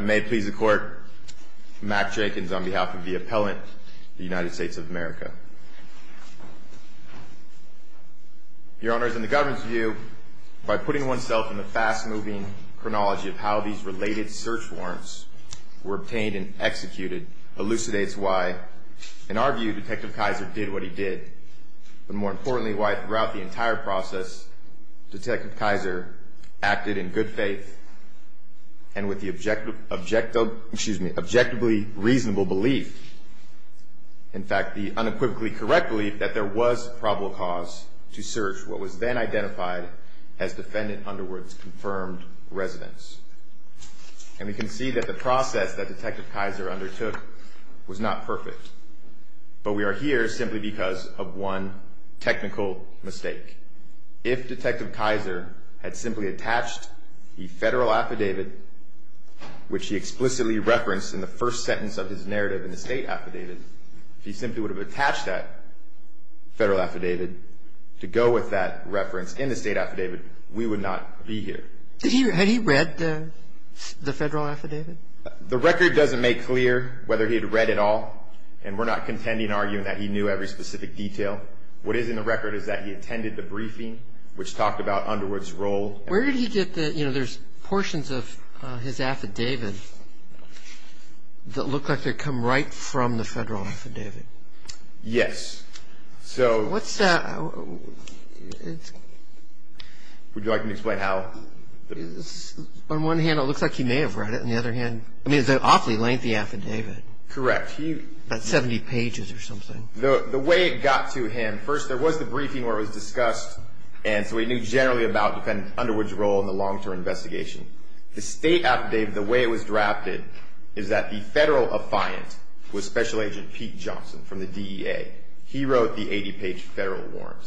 May it please the court, Mack Jenkins on behalf of the appellant, the United States of America. Your honors, in the government's view, by putting oneself in the fast-moving chronology of how these related search warrants were obtained and executed, elucidates why, in our view, Detective Kaiser did what he did, but more importantly, why throughout the entire process, Detective Kaiser acted in good faith and with the objectively reasonable belief, in fact, the unequivocally correct belief, that there was probable cause to search what was then identified as defendant Underwood's confirmed residence. And we can see that the process that Detective Kaiser undertook was not perfect, but we are here simply because of one technical mistake. If Detective Kaiser had simply attached the federal affidavit, which he explicitly referenced in the first sentence of his narrative in the state affidavit, if he simply would have attached that federal affidavit to go with that reference in the state affidavit, we would not be here. Had he read the federal affidavit? The record doesn't make clear whether he had read it all, and we're not contending arguing that he knew every specific detail. What is in the record is that he attended the briefing, which talked about Underwood's role. Where did he get the, you know, there's portions of his affidavit that look like they come right from the federal affidavit. Yes, so. What's that? Would you like me to explain how? On one hand, it looks like he may have read it. On the other hand, I mean, it's an awfully lengthy affidavit. Correct. About 70 pages or something. The way it got to him, first, there was the briefing where it was discussed, and so he knew generally about Underwood's role in the long-term investigation. The state affidavit, the way it was drafted, is that the federal affiant was Special Agent Pete Johnson from the DEA. He wrote the 80-page federal warrant.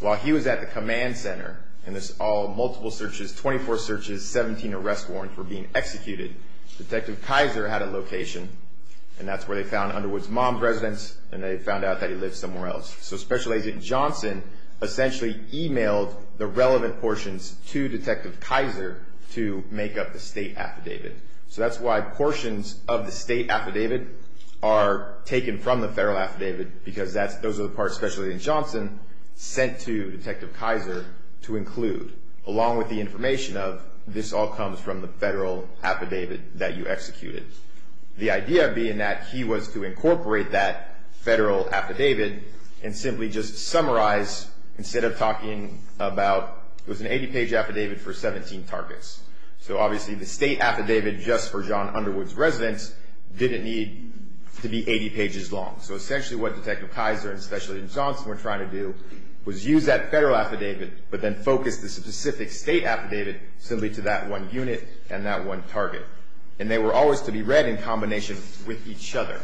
While he was at the command center, and there's all multiple searches, 24 searches, 17 arrest warrants were being executed, Detective Kaiser had a location, and that's where they found Underwood's mom's residence, and they found out that he lived somewhere else. So Special Agent Johnson essentially emailed the relevant portions to Detective Kaiser to make up the state affidavit. So that's why portions of the state affidavit are taken from the federal affidavit, because those are the parts Special Agent Johnson sent to Detective Kaiser to include, along with the information of, this all comes from the federal affidavit that you executed. The idea being that he was to incorporate that federal affidavit and simply just summarize, instead of talking about, it was an 80-page affidavit for 17 targets. So obviously the state affidavit, just for John Underwood's residence, didn't need to be 80 pages long. So essentially what Detective Kaiser and Special Agent Johnson were trying to do was use that federal affidavit, but then focus the specific state affidavit simply to that one unit and that one target. And they were always to be read in combination with each other,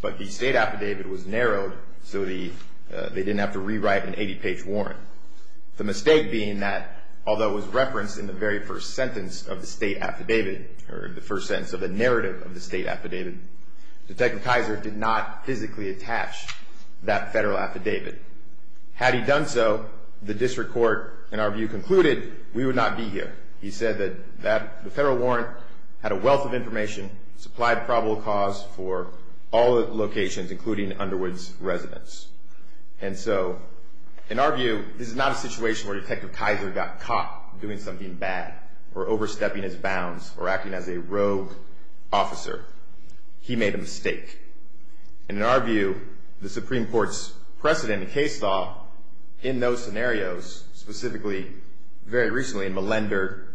but the state affidavit was narrowed, so they didn't have to rewrite an 80-page warrant. The mistake being that, although it was referenced in the very first sentence of the state affidavit, or the first sentence of the narrative of the state affidavit, Detective Kaiser did not physically attach that federal affidavit. Had he done so, the district court, in our view, concluded we would not be here. He said that the federal warrant had a wealth of information, supplied probable cause for all locations, including Underwood's residence. And so, in our view, this is not a situation where Detective Kaiser got caught doing something bad or overstepping his bounds or acting as a rogue officer. He made a mistake. And in our view, the Supreme Court's precedent and case law in those scenarios, specifically very recently in Millender,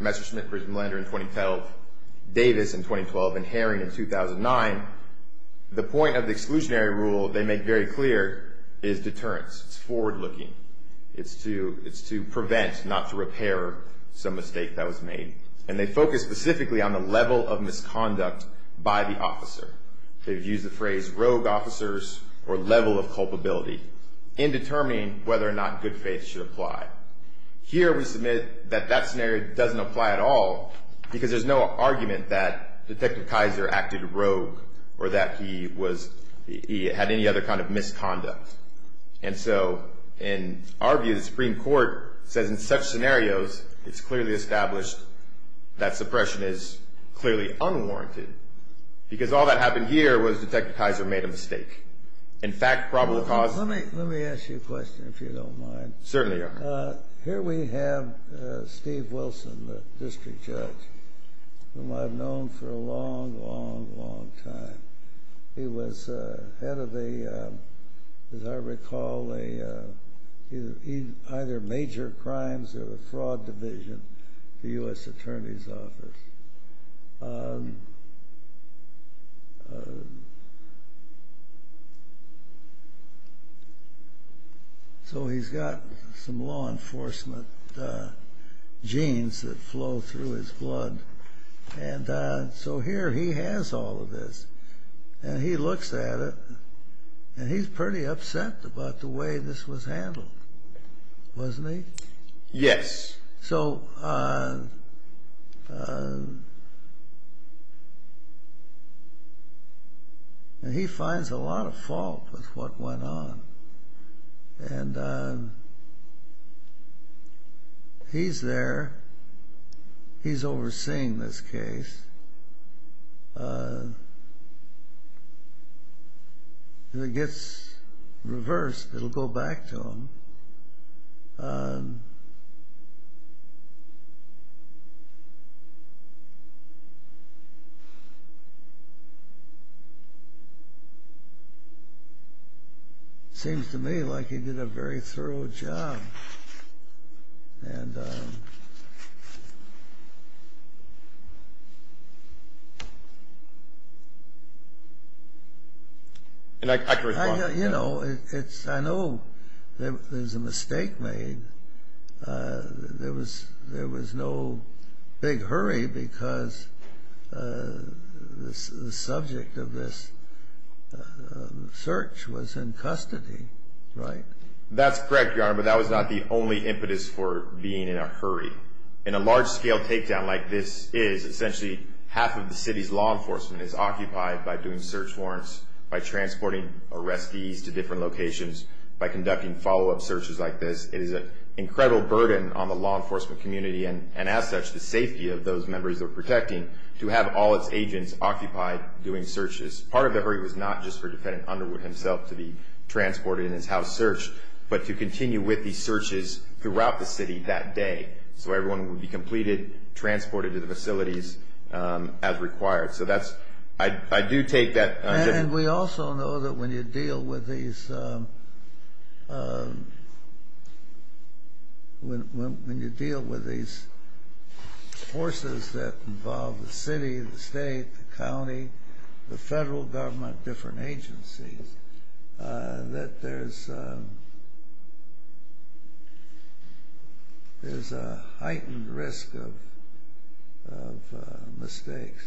Messerschmitt v. Millender in 2012, Davis in 2012, and Herring in 2009, the point of the exclusionary rule they make very clear is deterrence. It's forward-looking. It's to prevent, not to repair, some mistake that was made. And they focus specifically on the level of misconduct by the officer. They've used the phrase rogue officers or level of culpability in determining whether or not good faith should apply. Here we submit that that scenario doesn't apply at all because there's no argument that Detective Kaiser acted rogue or that he had any other kind of misconduct. And so, in our view, the Supreme Court says in such scenarios, it's clearly established that suppression is clearly unwarranted because all that happened here was Detective Kaiser made a mistake. In fact, probably caused- Let me ask you a question, if you don't mind. Certainly. Here we have Steve Wilson, the district judge, whom I've known for a long, long, long time. He was head of a, as I recall, either major crimes or a fraud division, the U.S. Attorney's Office. So he's got some law enforcement genes that flow through his blood. And so here he has all of this. And he looks at it, and he's pretty upset about the way this was handled, wasn't he? Yes. And he finds a lot of fault with what went on. And he's there. He's overseeing this case. When it gets reversed, it'll go back to him. It seems to me like he did a very thorough job. And I could respond. I know there's a mistake made. There was no big hurry because the subject of this search was in custody, right? That's correct, Your Honor, but that was not the only impetus for being in a hurry. In a large-scale takedown like this is, essentially, half of the city's law enforcement is occupied by doing search warrants, by transporting arrestees to different locations, by conducting follow-up searches like this. It is an incredible burden on the law enforcement community and, as such, the safety of those members they're protecting to have all its agents occupied doing searches. Part of the hurry was not just for Defendant Underwood himself to be transported in his house search, but to continue with these searches throughout the city that day so everyone would be completed, transported to the facilities as required. So I do take that. And we also know that when you deal with these forces that involve the city, the state, the county, the federal government, different agencies, that there's a heightened risk of mistakes.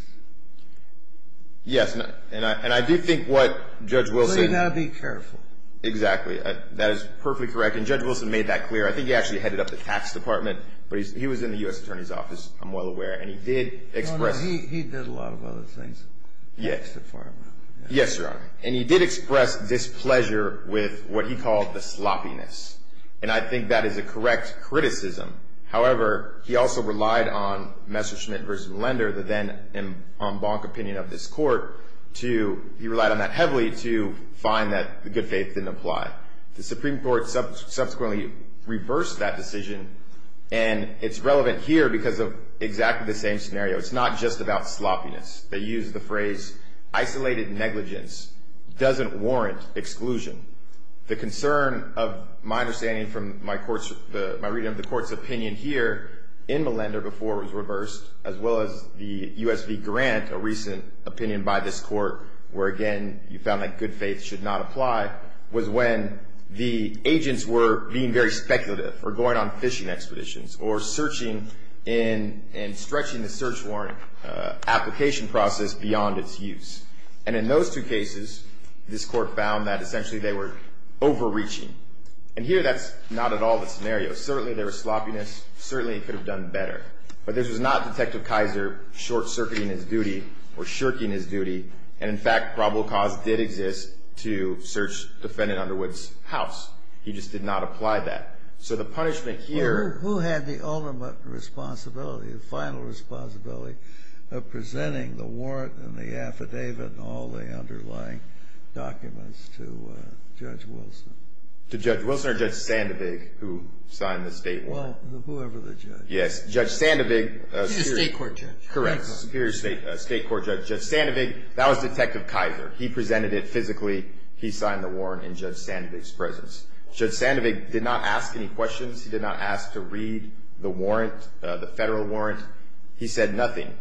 Yes, and I do think what Judge Wilson— So you've got to be careful. Exactly. That is perfectly correct. And Judge Wilson made that clear. I think he actually headed up the Tax Department, but he was in the U.S. Attorney's Office, I'm well aware, and he did express— He did a lot of other things. Yes, Your Honor. And he did express displeasure with what he called the sloppiness, and I think that is a correct criticism. However, he also relied on Messerschmitt v. Lender, the then-en banc opinion of this Court, to—he relied on that heavily to find that the good faith didn't apply. The Supreme Court subsequently reversed that decision, and it's relevant here because of exactly the same scenario. It's not just about sloppiness. They use the phrase, isolated negligence doesn't warrant exclusion. The concern of my understanding from my reading of the Court's opinion here in Melender, before it was reversed, as well as the U.S. v. Grant, a recent opinion by this Court, where, again, you found that good faith should not apply, was when the agents were being very speculative or going on fishing expeditions or searching and stretching the search warrant application process beyond its use. And in those two cases, this Court found that, essentially, they were overreaching. And here, that's not at all the scenario. Certainly, there was sloppiness. Certainly, it could have done better. But this was not Detective Kaiser short-circuiting his duty or shirking his duty, and, in fact, probable cause did exist to search defendant Underwood's house. He just did not apply that. So the punishment here Well, who had the ultimate responsibility, the final responsibility, of presenting the warrant and the affidavit and all the underlying documents to Judge Wilson? To Judge Wilson or Judge Sandovig, who signed the state warrant? Well, whoever the judge. Yes. Judge Sandovig He's a state court judge. Correct. Superior state court judge. Judge Sandovig, that was Detective Kaiser. He presented it physically. He signed the warrant in Judge Sandovig's presence. Judge Sandovig did not ask any questions. He did not ask to read the warrant, the federal warrant. He said nothing.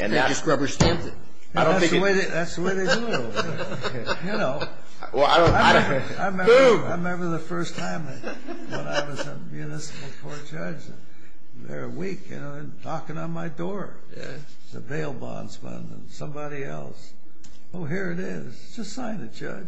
And that's He just rubber-stamped it. I don't think it That's the way they do it over there. You know Well, I don't Boo! I remember the first time when I was a municipal court judge. Very weak, you know, and knocking on my door. The bail bonds fund and somebody else. Oh, here it is. Just sign it, Judge.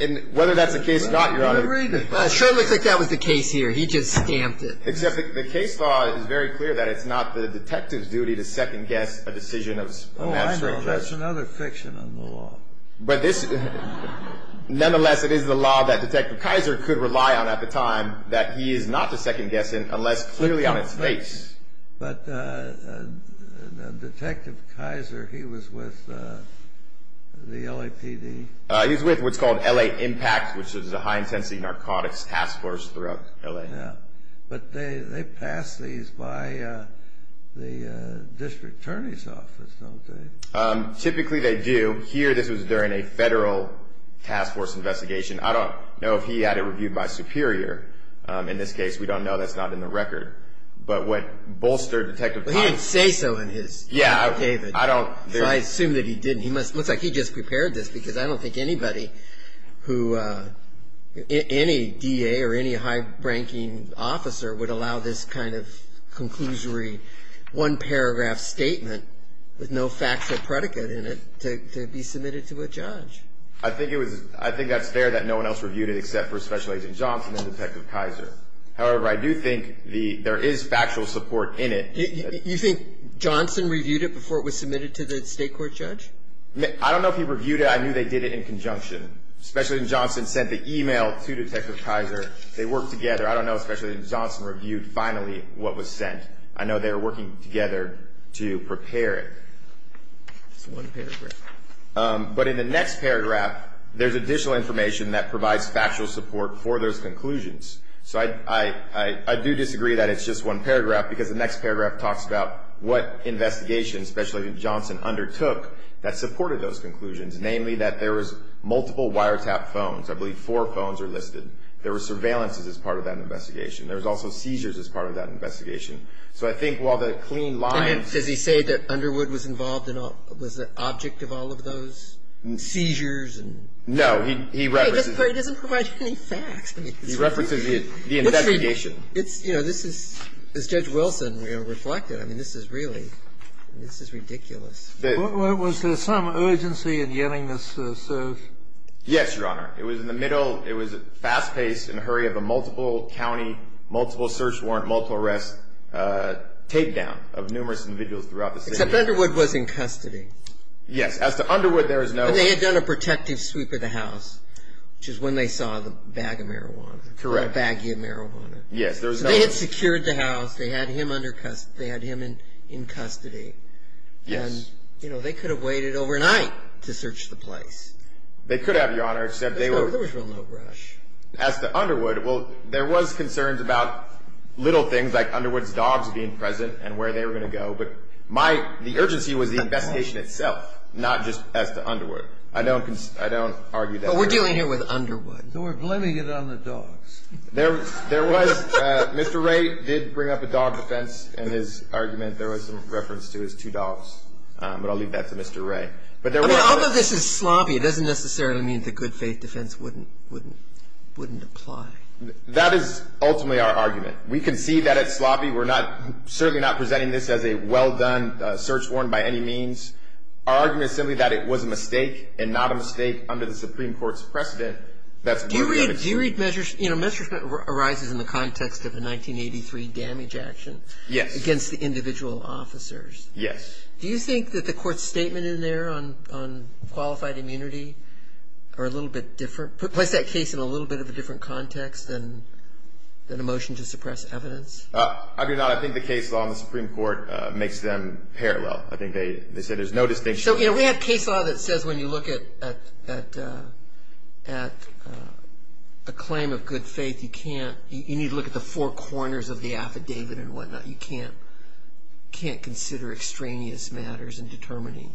And whether that's the case or not, Your Honor It sure looks like that was the case here. He just stamped it. Except the case law is very clear that it's not the detective's duty to second-guess a decision. Oh, I know. That's another fiction in the law. But this Nonetheless, it is the law that Detective Kaiser could rely on at the time that he is not to second-guess unless clearly on its face. But Detective Kaiser, he was with the LAPD. He was with what's called L.A. Impact, which is a high-intensity narcotics task force throughout L.A. Yeah. But they pass these by the district attorney's office, don't they? Typically, they do. Here, this was during a federal task force investigation. I don't know if he had it reviewed by Superior. In this case, we don't know. That's not in the record. But what bolstered Detective Kaiser Well, he didn't say so in his Yeah, I don't I assume that he didn't. It looks like he just prepared this because I don't think anybody who any D.A. or any high-ranking officer would allow this kind of conclusory one-paragraph statement with no factual predicate in it to be submitted to a judge. I think it was I think that's fair that no one else reviewed it except for Special Agent Johnson and Detective Kaiser. However, I do think there is factual support in it. You think Johnson reviewed it before it was submitted to the state court judge? I don't know if he reviewed it. I knew they did it in conjunction. Special Agent Johnson sent the e-mail to Detective Kaiser. They worked together. I don't know if Special Agent Johnson reviewed finally what was sent. I know they were working together to prepare it. It's one paragraph. But in the next paragraph, there's additional information that provides factual support for those conclusions. So I do disagree that it's just one paragraph because the next paragraph talks about what investigation Special Agent Johnson undertook that supported those conclusions, namely that there was multiple wiretap phones. I believe four phones are listed. There were surveillances as part of that investigation. There was also seizures as part of that investigation. So I think while the clean lines And does he say that Underwood was involved and was the object of all of those seizures and No, he references He doesn't provide any facts. He references the investigation. It's, you know, this is, as Judge Wilson reflected, I mean, this is really, this is ridiculous. Was there some urgency in getting this search? Yes, Your Honor. It was in the middle. It was fast-paced in a hurry of a multiple county, multiple search warrant, multiple arrest tape down of numerous individuals throughout the city. Except Underwood was in custody. Yes. As to Underwood, there is no They had done a protective sweep of the house, which is when they saw the bag of marijuana. Correct. The baggie of marijuana. Yes, there was no They had secured the house. They had him in custody. Yes. And, you know, they could have waited overnight to search the place. They could have, Your Honor, except they were There was no rush. As to Underwood, well, there was concerns about little things like Underwood's dogs being present and where they were going to go. But my, the urgency was the investigation itself, not just as to Underwood. I don't argue that But we're dealing here with Underwood. We're blaming it on the dogs. There was, Mr. Ray did bring up a dog defense in his argument. There was some reference to his two dogs, but I'll leave that to Mr. Ray. I mean, all of this is sloppy. It doesn't necessarily mean the good faith defense wouldn't apply. That is ultimately our argument. We concede that it's sloppy. We're not, certainly not presenting this as a well-done search warrant by any means. Our argument is simply that it was a mistake and not a mistake under the Supreme Court's precedent. Do you read measures, you know, measures that arises in the context of the 1983 damage action? Yes. Against the individual officers? Yes. Do you think that the court's statement in there on qualified immunity are a little bit different? Place that case in a little bit of a different context than a motion to suppress evidence? I do not. I think the case law in the Supreme Court makes them parallel. I think they said there's no distinction. So, you know, we have case law that says when you look at a claim of good faith, you need to look at the four corners of the affidavit and whatnot. You can't consider extraneous matters in determining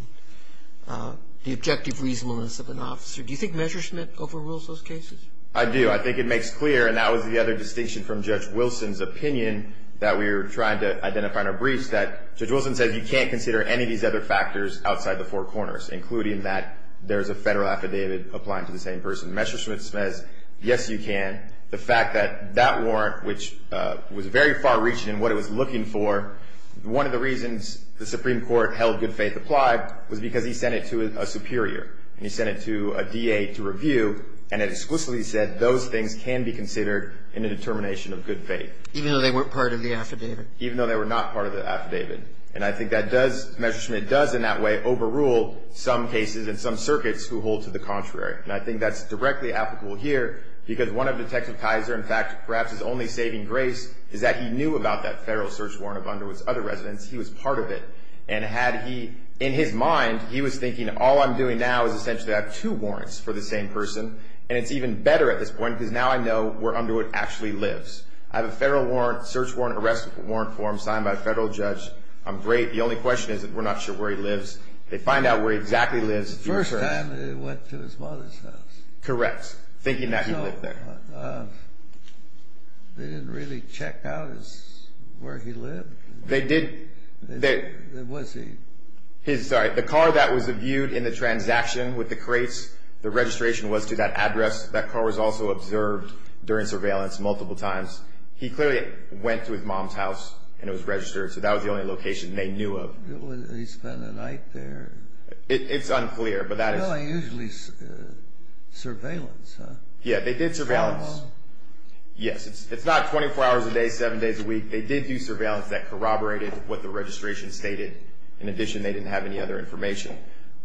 the objective reasonableness of an officer. Do you think Measuresmith overrules those cases? I do. I think it makes clear, and that was the other distinction from Judge Wilson's opinion that we were trying to identify in our briefs, that Judge Wilson says you can't consider any of these other factors outside the four corners, including that there's a federal affidavit applying to the same person. Measuresmith says, yes, you can. The fact that that warrant, which was very far-reaching in what it was looking for, one of the reasons the Supreme Court held good faith applied was because he sent it to a superior, and he sent it to a DA to review, and it explicitly said those things can be considered in a determination of good faith. Even though they weren't part of the affidavit? Even though they were not part of the affidavit. And I think that does, Measuresmith does in that way overrule some cases and some circuits who hold to the contrary. And I think that's directly applicable here because one of Detective Kaiser, in fact, perhaps his only saving grace, is that he knew about that federal search warrant of Underwood's other residents. He was part of it. And had he, in his mind, he was thinking all I'm doing now is essentially I have two warrants for the same person, and it's even better at this point because now I know where Underwood actually lives. I have a federal warrant, search warrant, arrest warrant for him signed by a federal judge. I'm great. The only question is that we're not sure where he lives. They find out where he exactly lives. The first time they went to his mother's house. Correct. Thinking that he lived there. They didn't really check out where he lived? They did. Was he? Sorry. The car that was viewed in the transaction with the crates, the registration was to that address. That car was also observed during surveillance multiple times. He clearly went to his mom's house, and it was registered, so that was the only location they knew of. Did they spend the night there? It's unclear, but that is. No, usually surveillance, huh? Yeah, they did surveillance. From home? Yes. It's not 24 hours a day, seven days a week. They did do surveillance that corroborated what the registration stated. In addition, they didn't have any other information.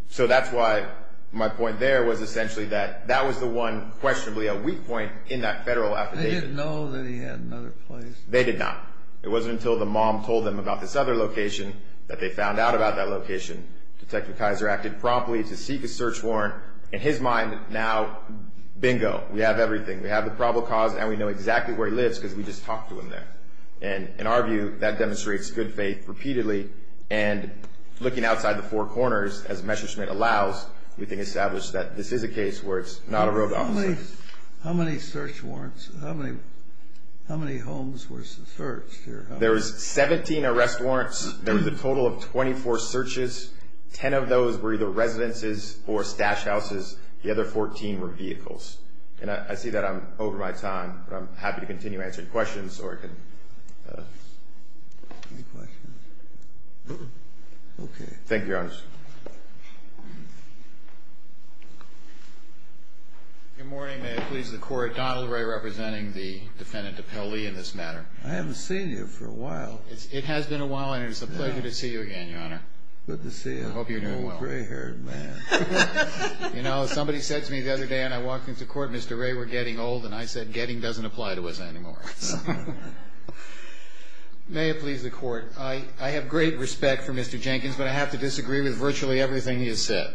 So that's why my point there was essentially that that was the one questionably a weak point in that federal affidavit. They didn't know that he had another place? They did not. It wasn't until the mom told them about this other location that they found out about that location. Detective Kaiser acted promptly to seek a search warrant. In his mind, now, bingo, we have everything. We have the probable cause, and we know exactly where he lives because we just talked to him there. And in our view, that demonstrates good faith repeatedly, and looking outside the four corners as Messerschmitt allows, we can establish that this is a case where it's not a road office. How many search warrants, how many homes were searched? There was 17 arrest warrants. There was a total of 24 searches. Ten of those were either residences or stash houses. The other 14 were vehicles. And I see that I'm over my time, but I'm happy to continue answering questions. Any questions? Thank you, Your Honor. Good morning. May it please the Court. Donald Ray representing the defendant, Appellee, in this matter. I haven't seen you for a while. It has been a while, and it is a pleasure to see you again, Your Honor. Good to see you. I hope you're doing well. I'm an old, gray-haired man. You know, somebody said to me the other day, and I walked into court, Mr. Ray, we're getting old, and I said, getting doesn't apply to us anymore. May it please the Court. I have great respect for Mr. Jenkins, but I have to disagree with virtually everything he has said.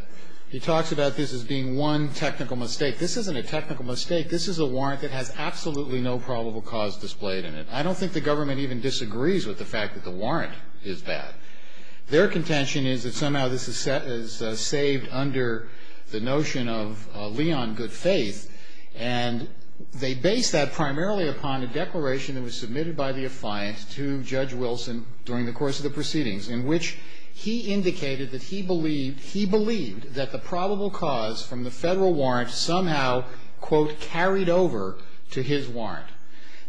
He talks about this as being one technical mistake. This isn't a technical mistake. This is a warrant that has absolutely no probable cause displayed in it. I don't think the government even disagrees with the fact that the warrant is bad. Their contention is that somehow this is saved under the notion of Leon good faith, and they base that primarily upon a declaration that was submitted by the affiant to Judge Wilson during the course of the proceedings in which he indicated that he believed that the probable cause from the federal warrant somehow, quote, carried over to his warrant.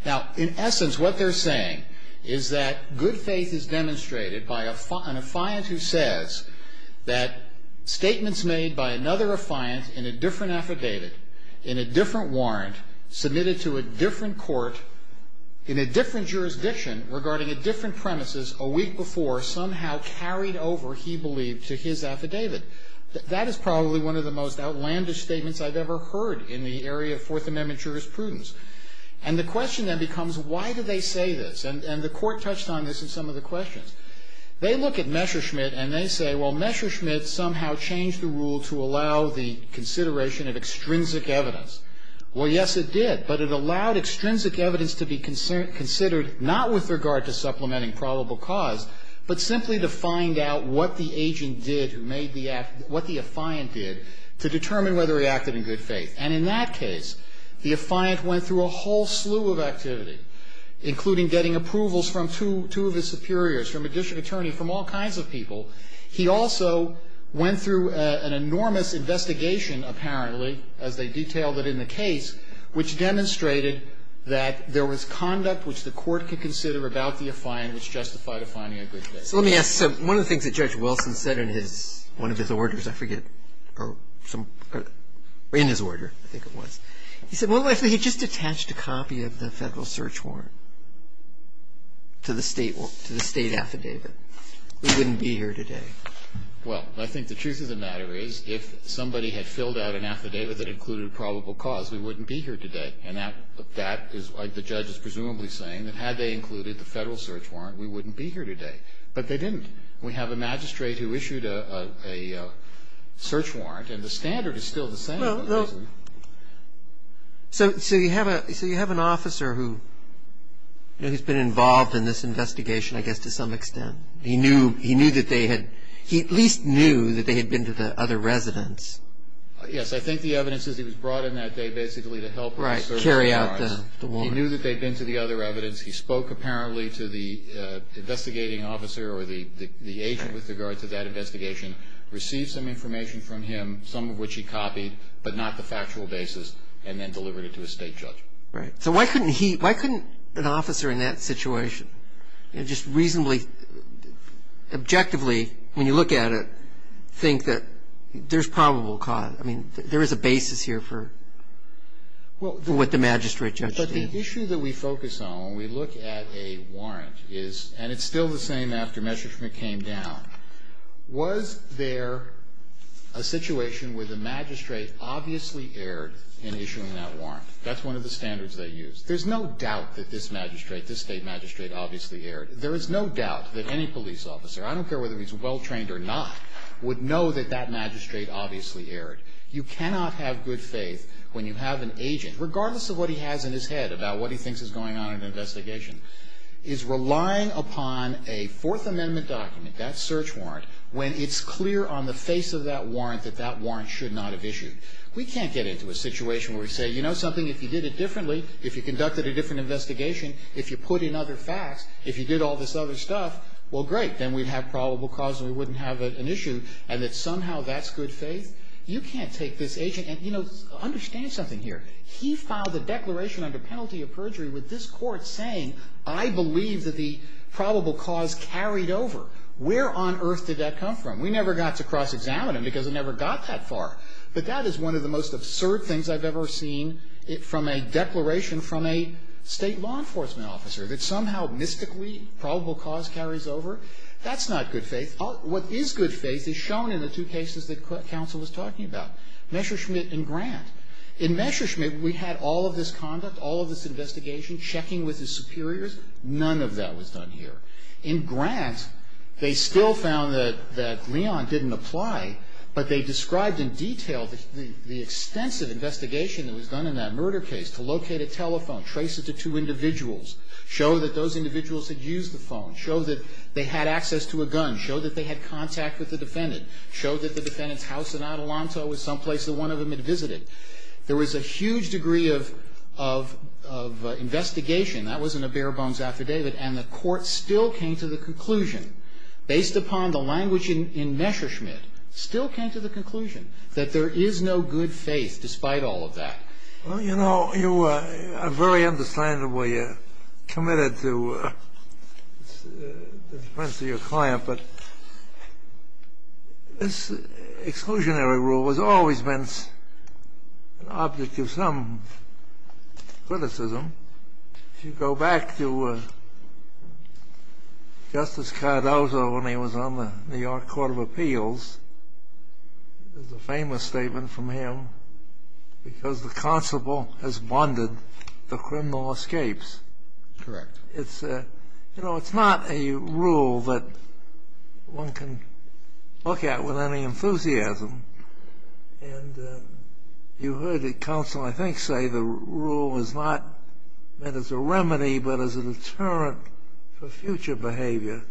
Now, in essence, what they're saying is that good faith is demonstrated by an affiant who says that statements made by another affiant in a different affidavit, in a different warrant, submitted to a different court, in a different jurisdiction, regarding a different premises, a week before, somehow carried over, he believed, to his affidavit. That is probably one of the most outlandish statements I've ever heard in the area of Fourth Amendment jurisprudence. And the question then becomes, why do they say this? And the Court touched on this in some of the questions. They look at Messerschmitt and they say, well, Messerschmitt somehow changed the rule to allow the consideration of extrinsic evidence. Well, yes, it did, but it allowed extrinsic evidence to be considered not with regard to supplementing probable cause, but simply to find out what the agent did who made the act, what the affiant did, to determine whether he acted in good faith. And in that case, the affiant went through a whole slew of activity, including getting approvals from two of his superiors, from a district attorney, from all kinds of people. He also went through an enormous investigation, apparently, as they detailed it in the case, which demonstrated that there was conduct which the Court could consider about the affiant which justified a finding of good faith. So let me ask, one of the things that Judge Wilson said in his, one of his orders, I forget, or in his order, I think it was. He said, what if he just attached a copy of the Federal Search Warrant to the state affidavit? We wouldn't be here today. Well, I think the truth of the matter is, if somebody had filled out an affidavit that included probable cause, we wouldn't be here today. And that is what the judge is presumably saying, that had they included the Federal Search Warrant. But they didn't. We have a magistrate who issued a search warrant, and the standard is still the same. So you have an officer who, you know, he's been involved in this investigation, I guess, to some extent. He knew that they had, he at least knew that they had been to the other residence. Yes, I think the evidence is he was brought in that day basically to help him carry out the warrant. He knew that they had been to the other residence. He spoke, apparently, to the investigating officer or the agent with regard to that investigation, received some information from him, some of which he copied, but not the factual basis, and then delivered it to a state judge. Right. So why couldn't he, why couldn't an officer in that situation just reasonably, objectively, when you look at it, think that there's probable cause? I mean, there is a basis here for what the magistrate judge did. But the issue that we focus on when we look at a warrant is, and it's still the same after Messerschmitt came down, was there a situation where the magistrate obviously erred in issuing that warrant? That's one of the standards they used. There's no doubt that this magistrate, this State magistrate, obviously erred. There is no doubt that any police officer, I don't care whether he's well trained or not, would know that that magistrate obviously erred. You cannot have good faith when you have an agent, regardless of what he has in his head about what he thinks is going on in an investigation, is relying upon a Fourth Amendment document, that search warrant, when it's clear on the face of that warrant that that warrant should not have issued. We can't get into a situation where we say, you know something, if you did it differently, if you conducted a different investigation, if you put in other facts, if you did all this other stuff, well, great, then we'd have probable cause and we wouldn't have an issue, and that somehow that's good faith. You can't take this agent and, you know, understand something here. He filed a declaration under penalty of perjury with this Court saying, I believe that the probable cause carried over. Where on earth did that come from? We never got to cross-examine him because it never got that far. But that is one of the most absurd things I've ever seen from a declaration from a State law enforcement officer, that somehow mystically probable cause carries over. That's not good faith. What is good faith is shown in the two cases that counsel was talking about, Messerschmidt and Grant. In Messerschmidt, we had all of this conduct, all of this investigation, checking with his superiors. None of that was done here. In Grant, they still found that Leon didn't apply, but they described in detail the extensive investigation that was done in that murder case to locate a telephone, trace it to two individuals, show that those individuals had used the phone, show that they had access to a gun, show that they had contact with the defendant, show that the defendant's house in Adelanto was someplace that one of them had visited. There was a huge degree of investigation. That wasn't a bare-bones affidavit. And the Court still came to the conclusion, based upon the language in Messerschmidt, still came to the conclusion that there is no good faith despite all of that. Well, you know, you are very understandably committed to the defense of your client, but this exclusionary rule has always been an object of some criticism. If you go back to Justice Cardozo when he was on the New York Court of Appeals, there's a famous statement from him, because the constable has bonded the criminal escapes. Correct. You know, it's not a rule that one can look at with any enthusiasm, and you heard the counsel, I think, say the rule is not meant as a remedy, but as a deterrent for future behavior.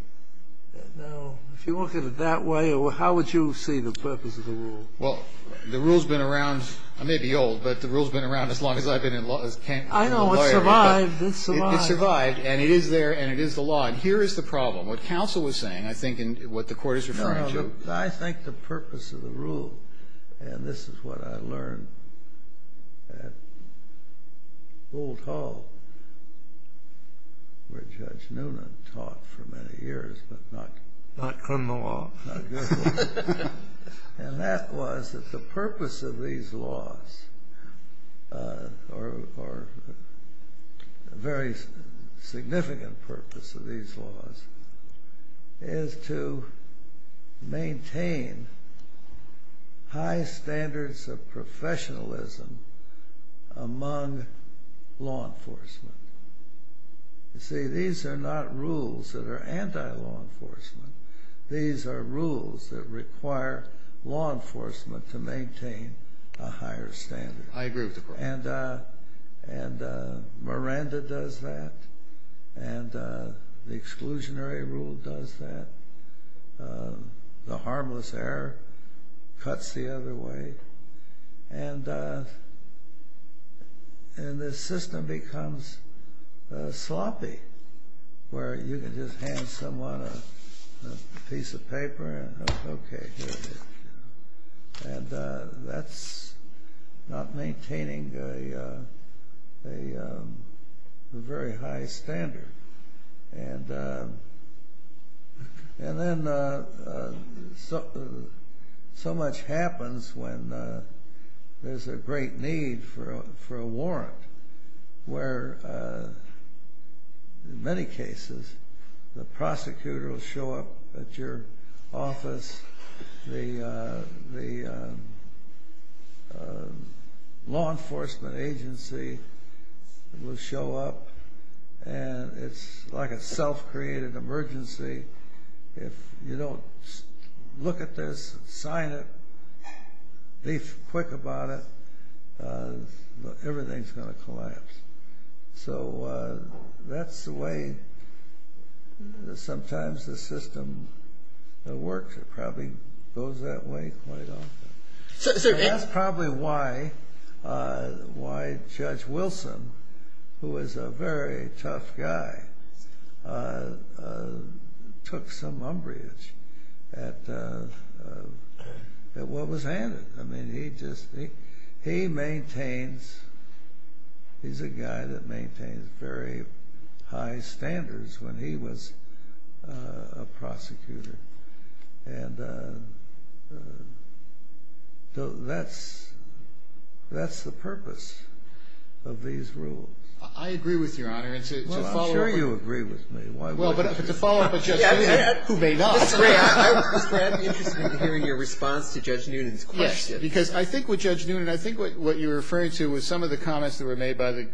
Now, if you look at it that way, how would you see the purpose of the rule? Well, the rule's been around, I may be old, but the rule's been around as long as I've been a lawyer. I know, it's survived, it's survived. It's survived, and it is there, and it is the law, and here is the problem. What counsel was saying, I think, and what the Court is referring to. I think the purpose of the rule, and this is what I learned at Boalt Hall, where Judge Noonan taught for many years, but not good law, and that was that the purpose of these laws, or a very significant purpose of these laws, is to maintain high standards of professionalism among law enforcement. You see, these are not rules that are anti-law enforcement. These are rules that require law enforcement to maintain a higher standard. I agree with the Court. And Miranda does that, and the exclusionary rule does that. The harmless error cuts the other way, and the system becomes sloppy, where you can just hand someone a piece of paper, and, okay, here it is. And that's not maintaining a very high standard. And then so much happens when there's a great need for a warrant, where, in many cases, the prosecutor will show up at your office. The law enforcement agency will show up, and it's like a self-created emergency. If you don't look at this, sign it, be quick about it, everything's going to collapse. So that's the way sometimes the system works. It probably goes that way quite often. That's probably why Judge Wilson, who is a very tough guy, took some umbrage at what was handed. I mean, he just, he maintains, he's a guy that maintains very high standards when he was a prosecutor. And so that's the purpose of these rules. I agree with Your Honor, and to follow up. Well, I'm sure you agree with me. Why wouldn't you? Well, but to follow up with Judge Noonan, who may not. Mr. Grant, I would be interested in hearing your response to Judge Noonan's question. Yes, because I think what Judge Noonan, I think what you're referring to was some of the comments that were made by the,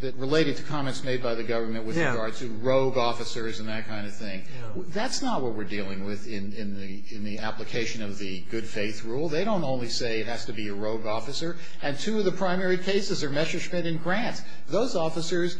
that related to comments made by the government with regard to rogue officers and that kind of thing. That's not what we're dealing with in the application of the good faith rule. They don't only say it has to be a rogue officer. And two of the primary cases are Messerschmitt and Grant. Those officers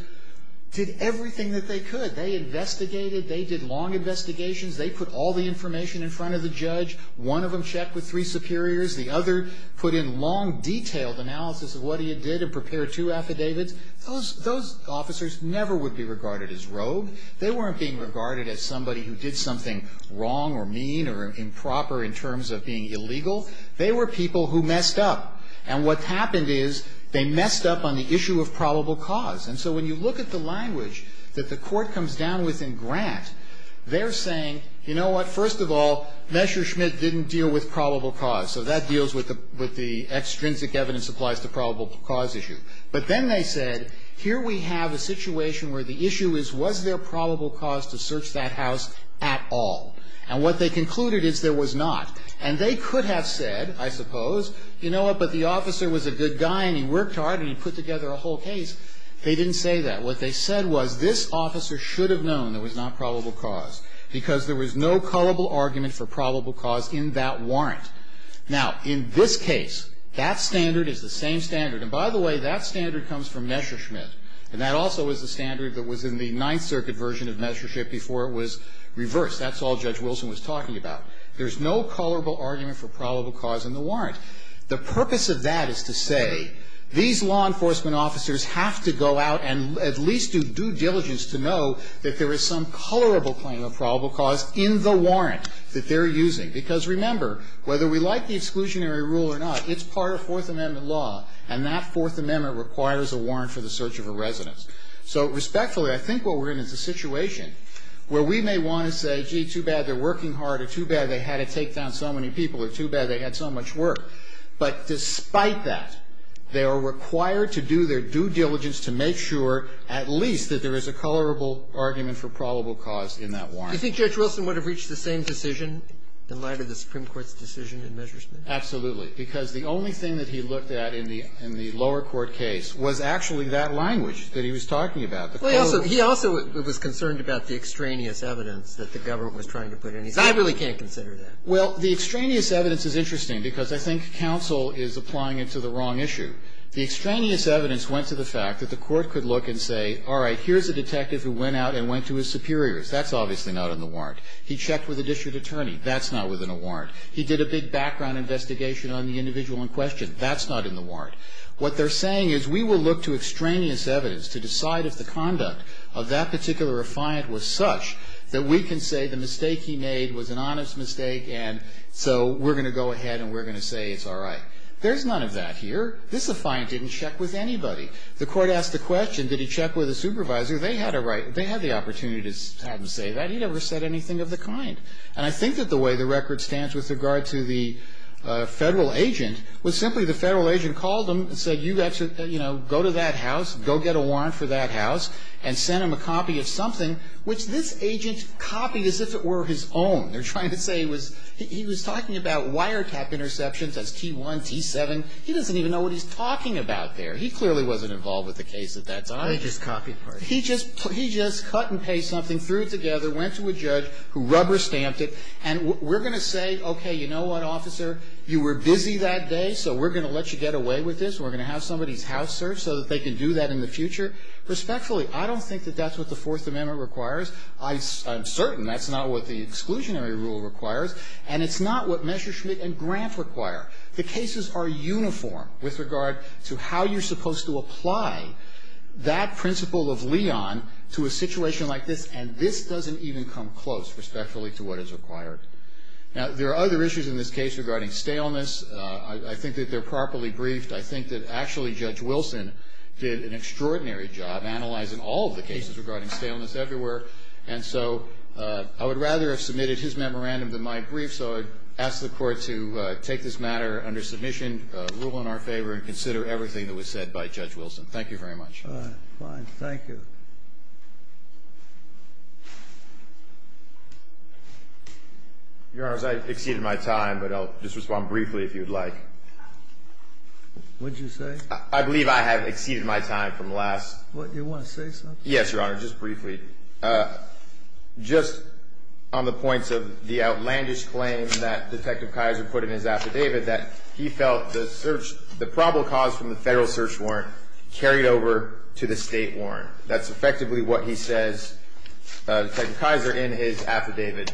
did everything that they could. They investigated. They did long investigations. They put all the information in front of the judge. One of them checked with three superiors. The other put in long, detailed analysis of what he had did and prepared two affidavits. Those officers never would be regarded as rogue. They weren't being regarded as somebody who did something wrong or mean or improper in terms of being illegal. They were people who messed up. And what happened is they messed up on the issue of probable cause. And so when you look at the language that the Court comes down with in Grant, they're saying, you know what, first of all, Messerschmitt didn't deal with probable cause. So that deals with the extrinsic evidence applies to probable cause issue. But then they said, here we have a situation where the issue is, was there probable cause to search that house at all? And what they concluded is there was not. And they could have said, I suppose, you know what, but the officer was a good guy and he worked hard and he put together a whole case. They didn't say that. What they said was this officer should have known there was not probable cause, because there was no culpable argument for probable cause in that warrant. Now, in this case, that standard is the same standard. And by the way, that standard comes from Messerschmitt. And that also is the standard that was in the Ninth Circuit version of Messerschmitt before it was reversed. That's all Judge Wilson was talking about. There's no culpable argument for probable cause in the warrant. The purpose of that is to say these law enforcement officers have to go out and at least do due diligence to know that there is some colorable claim of probable cause in the warrant that they're using. Because remember, whether we like the exclusionary rule or not, it's part of Fourth Amendment law, and that Fourth Amendment requires a warrant for the search of a residence. So respectfully, I think what we're in is a situation where we may want to say, gee, too bad they're working hard or too bad they had to take down so many people or too bad, but despite that, they are required to do their due diligence to make sure at least that there is a colorable argument for probable cause in that warrant. Do you think Judge Wilson would have reached the same decision in light of the Supreme Court's decision in Messerschmitt? Absolutely. Because the only thing that he looked at in the lower court case was actually that language that he was talking about. Well, he also was concerned about the extraneous evidence that the government was trying to put in. He said, I really can't consider that. Well, the extraneous evidence is interesting because I think counsel is applying it to the wrong issue. The extraneous evidence went to the fact that the court could look and say, all right, here's a detective who went out and went to his superiors. That's obviously not in the warrant. He checked with a district attorney. That's not within a warrant. He did a big background investigation on the individual in question. That's not in the warrant. What they're saying is we will look to extraneous evidence to decide if the conduct of that particular refiant was such that we can say the mistake he made was an honest mistake, and so we're going to go ahead and we're going to say it's all right. There's none of that here. This refiant didn't check with anybody. The court asked the question, did he check with a supervisor? They had the opportunity to say that. He never said anything of the kind. And I think that the way the record stands with regard to the Federal agent was simply the Federal agent called him and said, you know, go to that house, go get a warrant for that house, and sent him a copy of something, which this agent copied as if it were his own. They're trying to say he was talking about wiretap interceptions as T1, T7. He doesn't even know what he's talking about there. He clearly wasn't involved with the case at that time. He just cut and pasted something, threw it together, went to a judge who rubber stamped it, and we're going to say, okay, you know what, officer, you were busy that day, so we're going to let you get away with this. We're going to have somebody's house searched so that they can do that in the future. Respectfully, I don't think that that's what the Fourth Amendment requires. I'm certain that's not what the exclusionary rule requires, and it's not what Messerschmitt and Grant require. The cases are uniform with regard to how you're supposed to apply that principle of Leon to a situation like this, and this doesn't even come close, respectfully, to what is required. Now, there are other issues in this case regarding staleness. I think that they're properly briefed. I think that actually Judge Wilson did an extraordinary job analyzing all of the cases regarding staleness everywhere, and so I would rather have submitted his memorandum than my brief, so I ask the Court to take this matter under submission, rule in our favor, and consider everything that was said by Judge Wilson. Thank you very much. All right. Fine. Thank you. Your Honors, I've exceeded my time, but I'll just respond briefly if you would like. What did you say? I believe I have exceeded my time from last. What, you want to say something? Yes, Your Honor, just briefly. Just on the points of the outlandish claim that Detective Kaiser put in his affidavit that he felt the probable cause from the federal search warrant carried over to the state warrant. That's effectively what he says, Detective Kaiser, in his affidavit.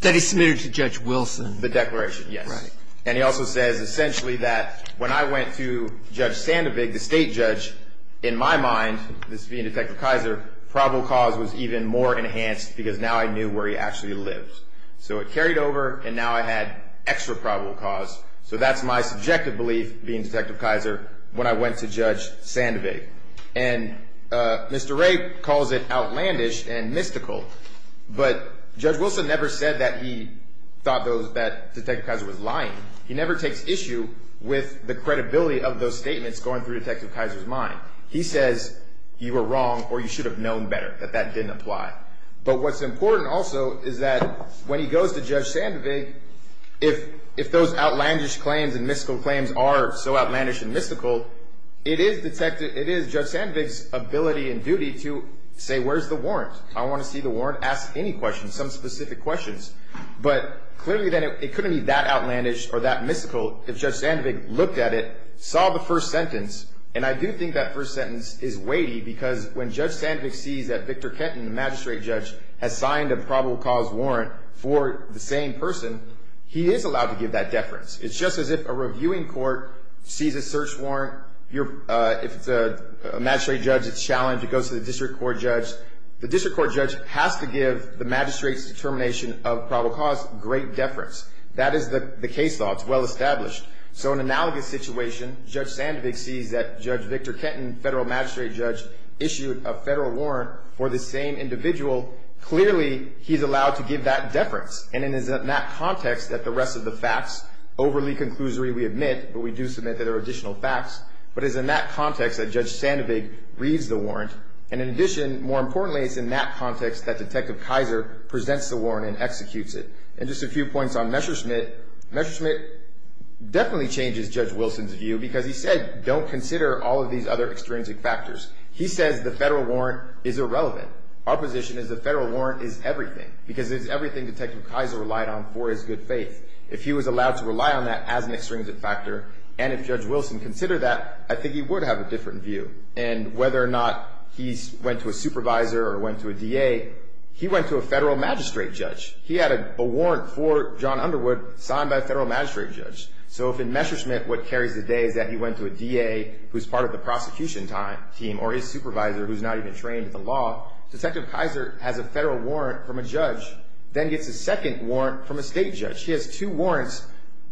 That he submitted to Judge Wilson. The declaration, yes. Right. And he also says essentially that when I went to Judge Sandovig, the state judge, in my mind, this being Detective Kaiser, probable cause was even more enhanced because now I knew where he actually lived. So it carried over, and now I had extra probable cause. So that's my subjective belief, being Detective Kaiser, when I went to Judge Sandovig. And Mr. Wray calls it outlandish and mystical, but Judge Wilson never said that he thought that Detective Kaiser was lying. He never takes issue with the credibility of those statements going through Detective Kaiser's mind. He says you were wrong, or you should have known better, that that didn't apply. But what's important also is that when he goes to Judge Sandovig, if those outlandish claims and mystical claims are so outlandish and mystical, it is Judge Sandovig's ability and duty to say, where's the warrant? I want to see the warrant. Ask any questions, some specific questions. But clearly then it couldn't be that outlandish or that mystical if Judge Sandovig looked at it, saw the first sentence, and I do think that first sentence is weighty because when Judge Sandovig sees that Victor Kenton, the magistrate judge, has signed a probable cause warrant for the same person, he is allowed to give that deference. It's just as if a reviewing court sees a search warrant. If it's a magistrate judge, it's challenged. It goes to the district court judge. The district court judge has to give the magistrate's determination of probable cause great deference. That is the case law. It's well established. So in an analogous situation, Judge Sandovig sees that Judge Victor Kenton, federal magistrate judge, issued a federal warrant for the same individual. Clearly he's allowed to give that deference. And it is in that context that the rest of the facts, overly conclusory we admit, but we do submit that there are additional facts. But it is in that context that Judge Sandovig reads the warrant. And in addition, more importantly, it's in that context that Detective Kaiser presents the warrant and executes it. And just a few points on Messerschmitt. Messerschmitt definitely changes Judge Wilson's view because he said, don't consider all of these other extrinsic factors. He says the federal warrant is irrelevant. Our position is the federal warrant is everything because it's everything Detective Kaiser relied on for his good faith. If he was allowed to rely on that as an extrinsic factor and if Judge Wilson considered that, I think he would have a different view. And whether or not he went to a supervisor or went to a DA, he went to a federal magistrate judge. He had a warrant for John Underwood signed by a federal magistrate judge. So if in Messerschmitt what carries the day is that he went to a DA who's part of the prosecution team or his supervisor who's not even trained in the law, Detective Kaiser has a federal warrant from a judge, then gets a second warrant from a state judge. He has two warrants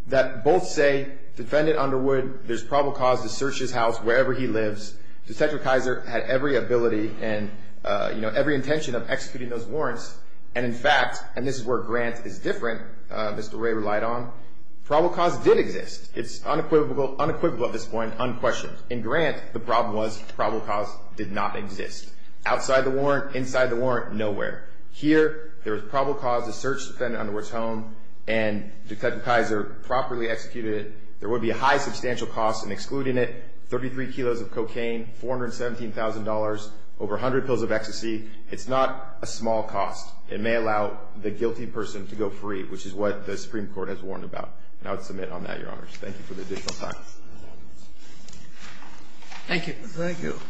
that both say defendant Underwood, there's probable cause to search his house wherever he lives. Detective Kaiser had every ability and every intention of executing those warrants. And in fact, and this is where Grant is different, Mr. Ray relied on, probable cause did exist. It's unequivocal at this point, unquestioned. In Grant, the problem was probable cause did not exist. Outside the warrant, inside the warrant, nowhere. Here there was probable cause to search defendant Underwood's home and Detective Kaiser properly executed it. There would be a high substantial cost in excluding it. 33 kilos of cocaine, $417,000, over 100 pills of ecstasy. It's not a small cost. It may allow the guilty person to go free, which is what the Supreme Court has warned about. And I would submit on that, Your Honors. Thank you for the additional time. Thank you. Thank you.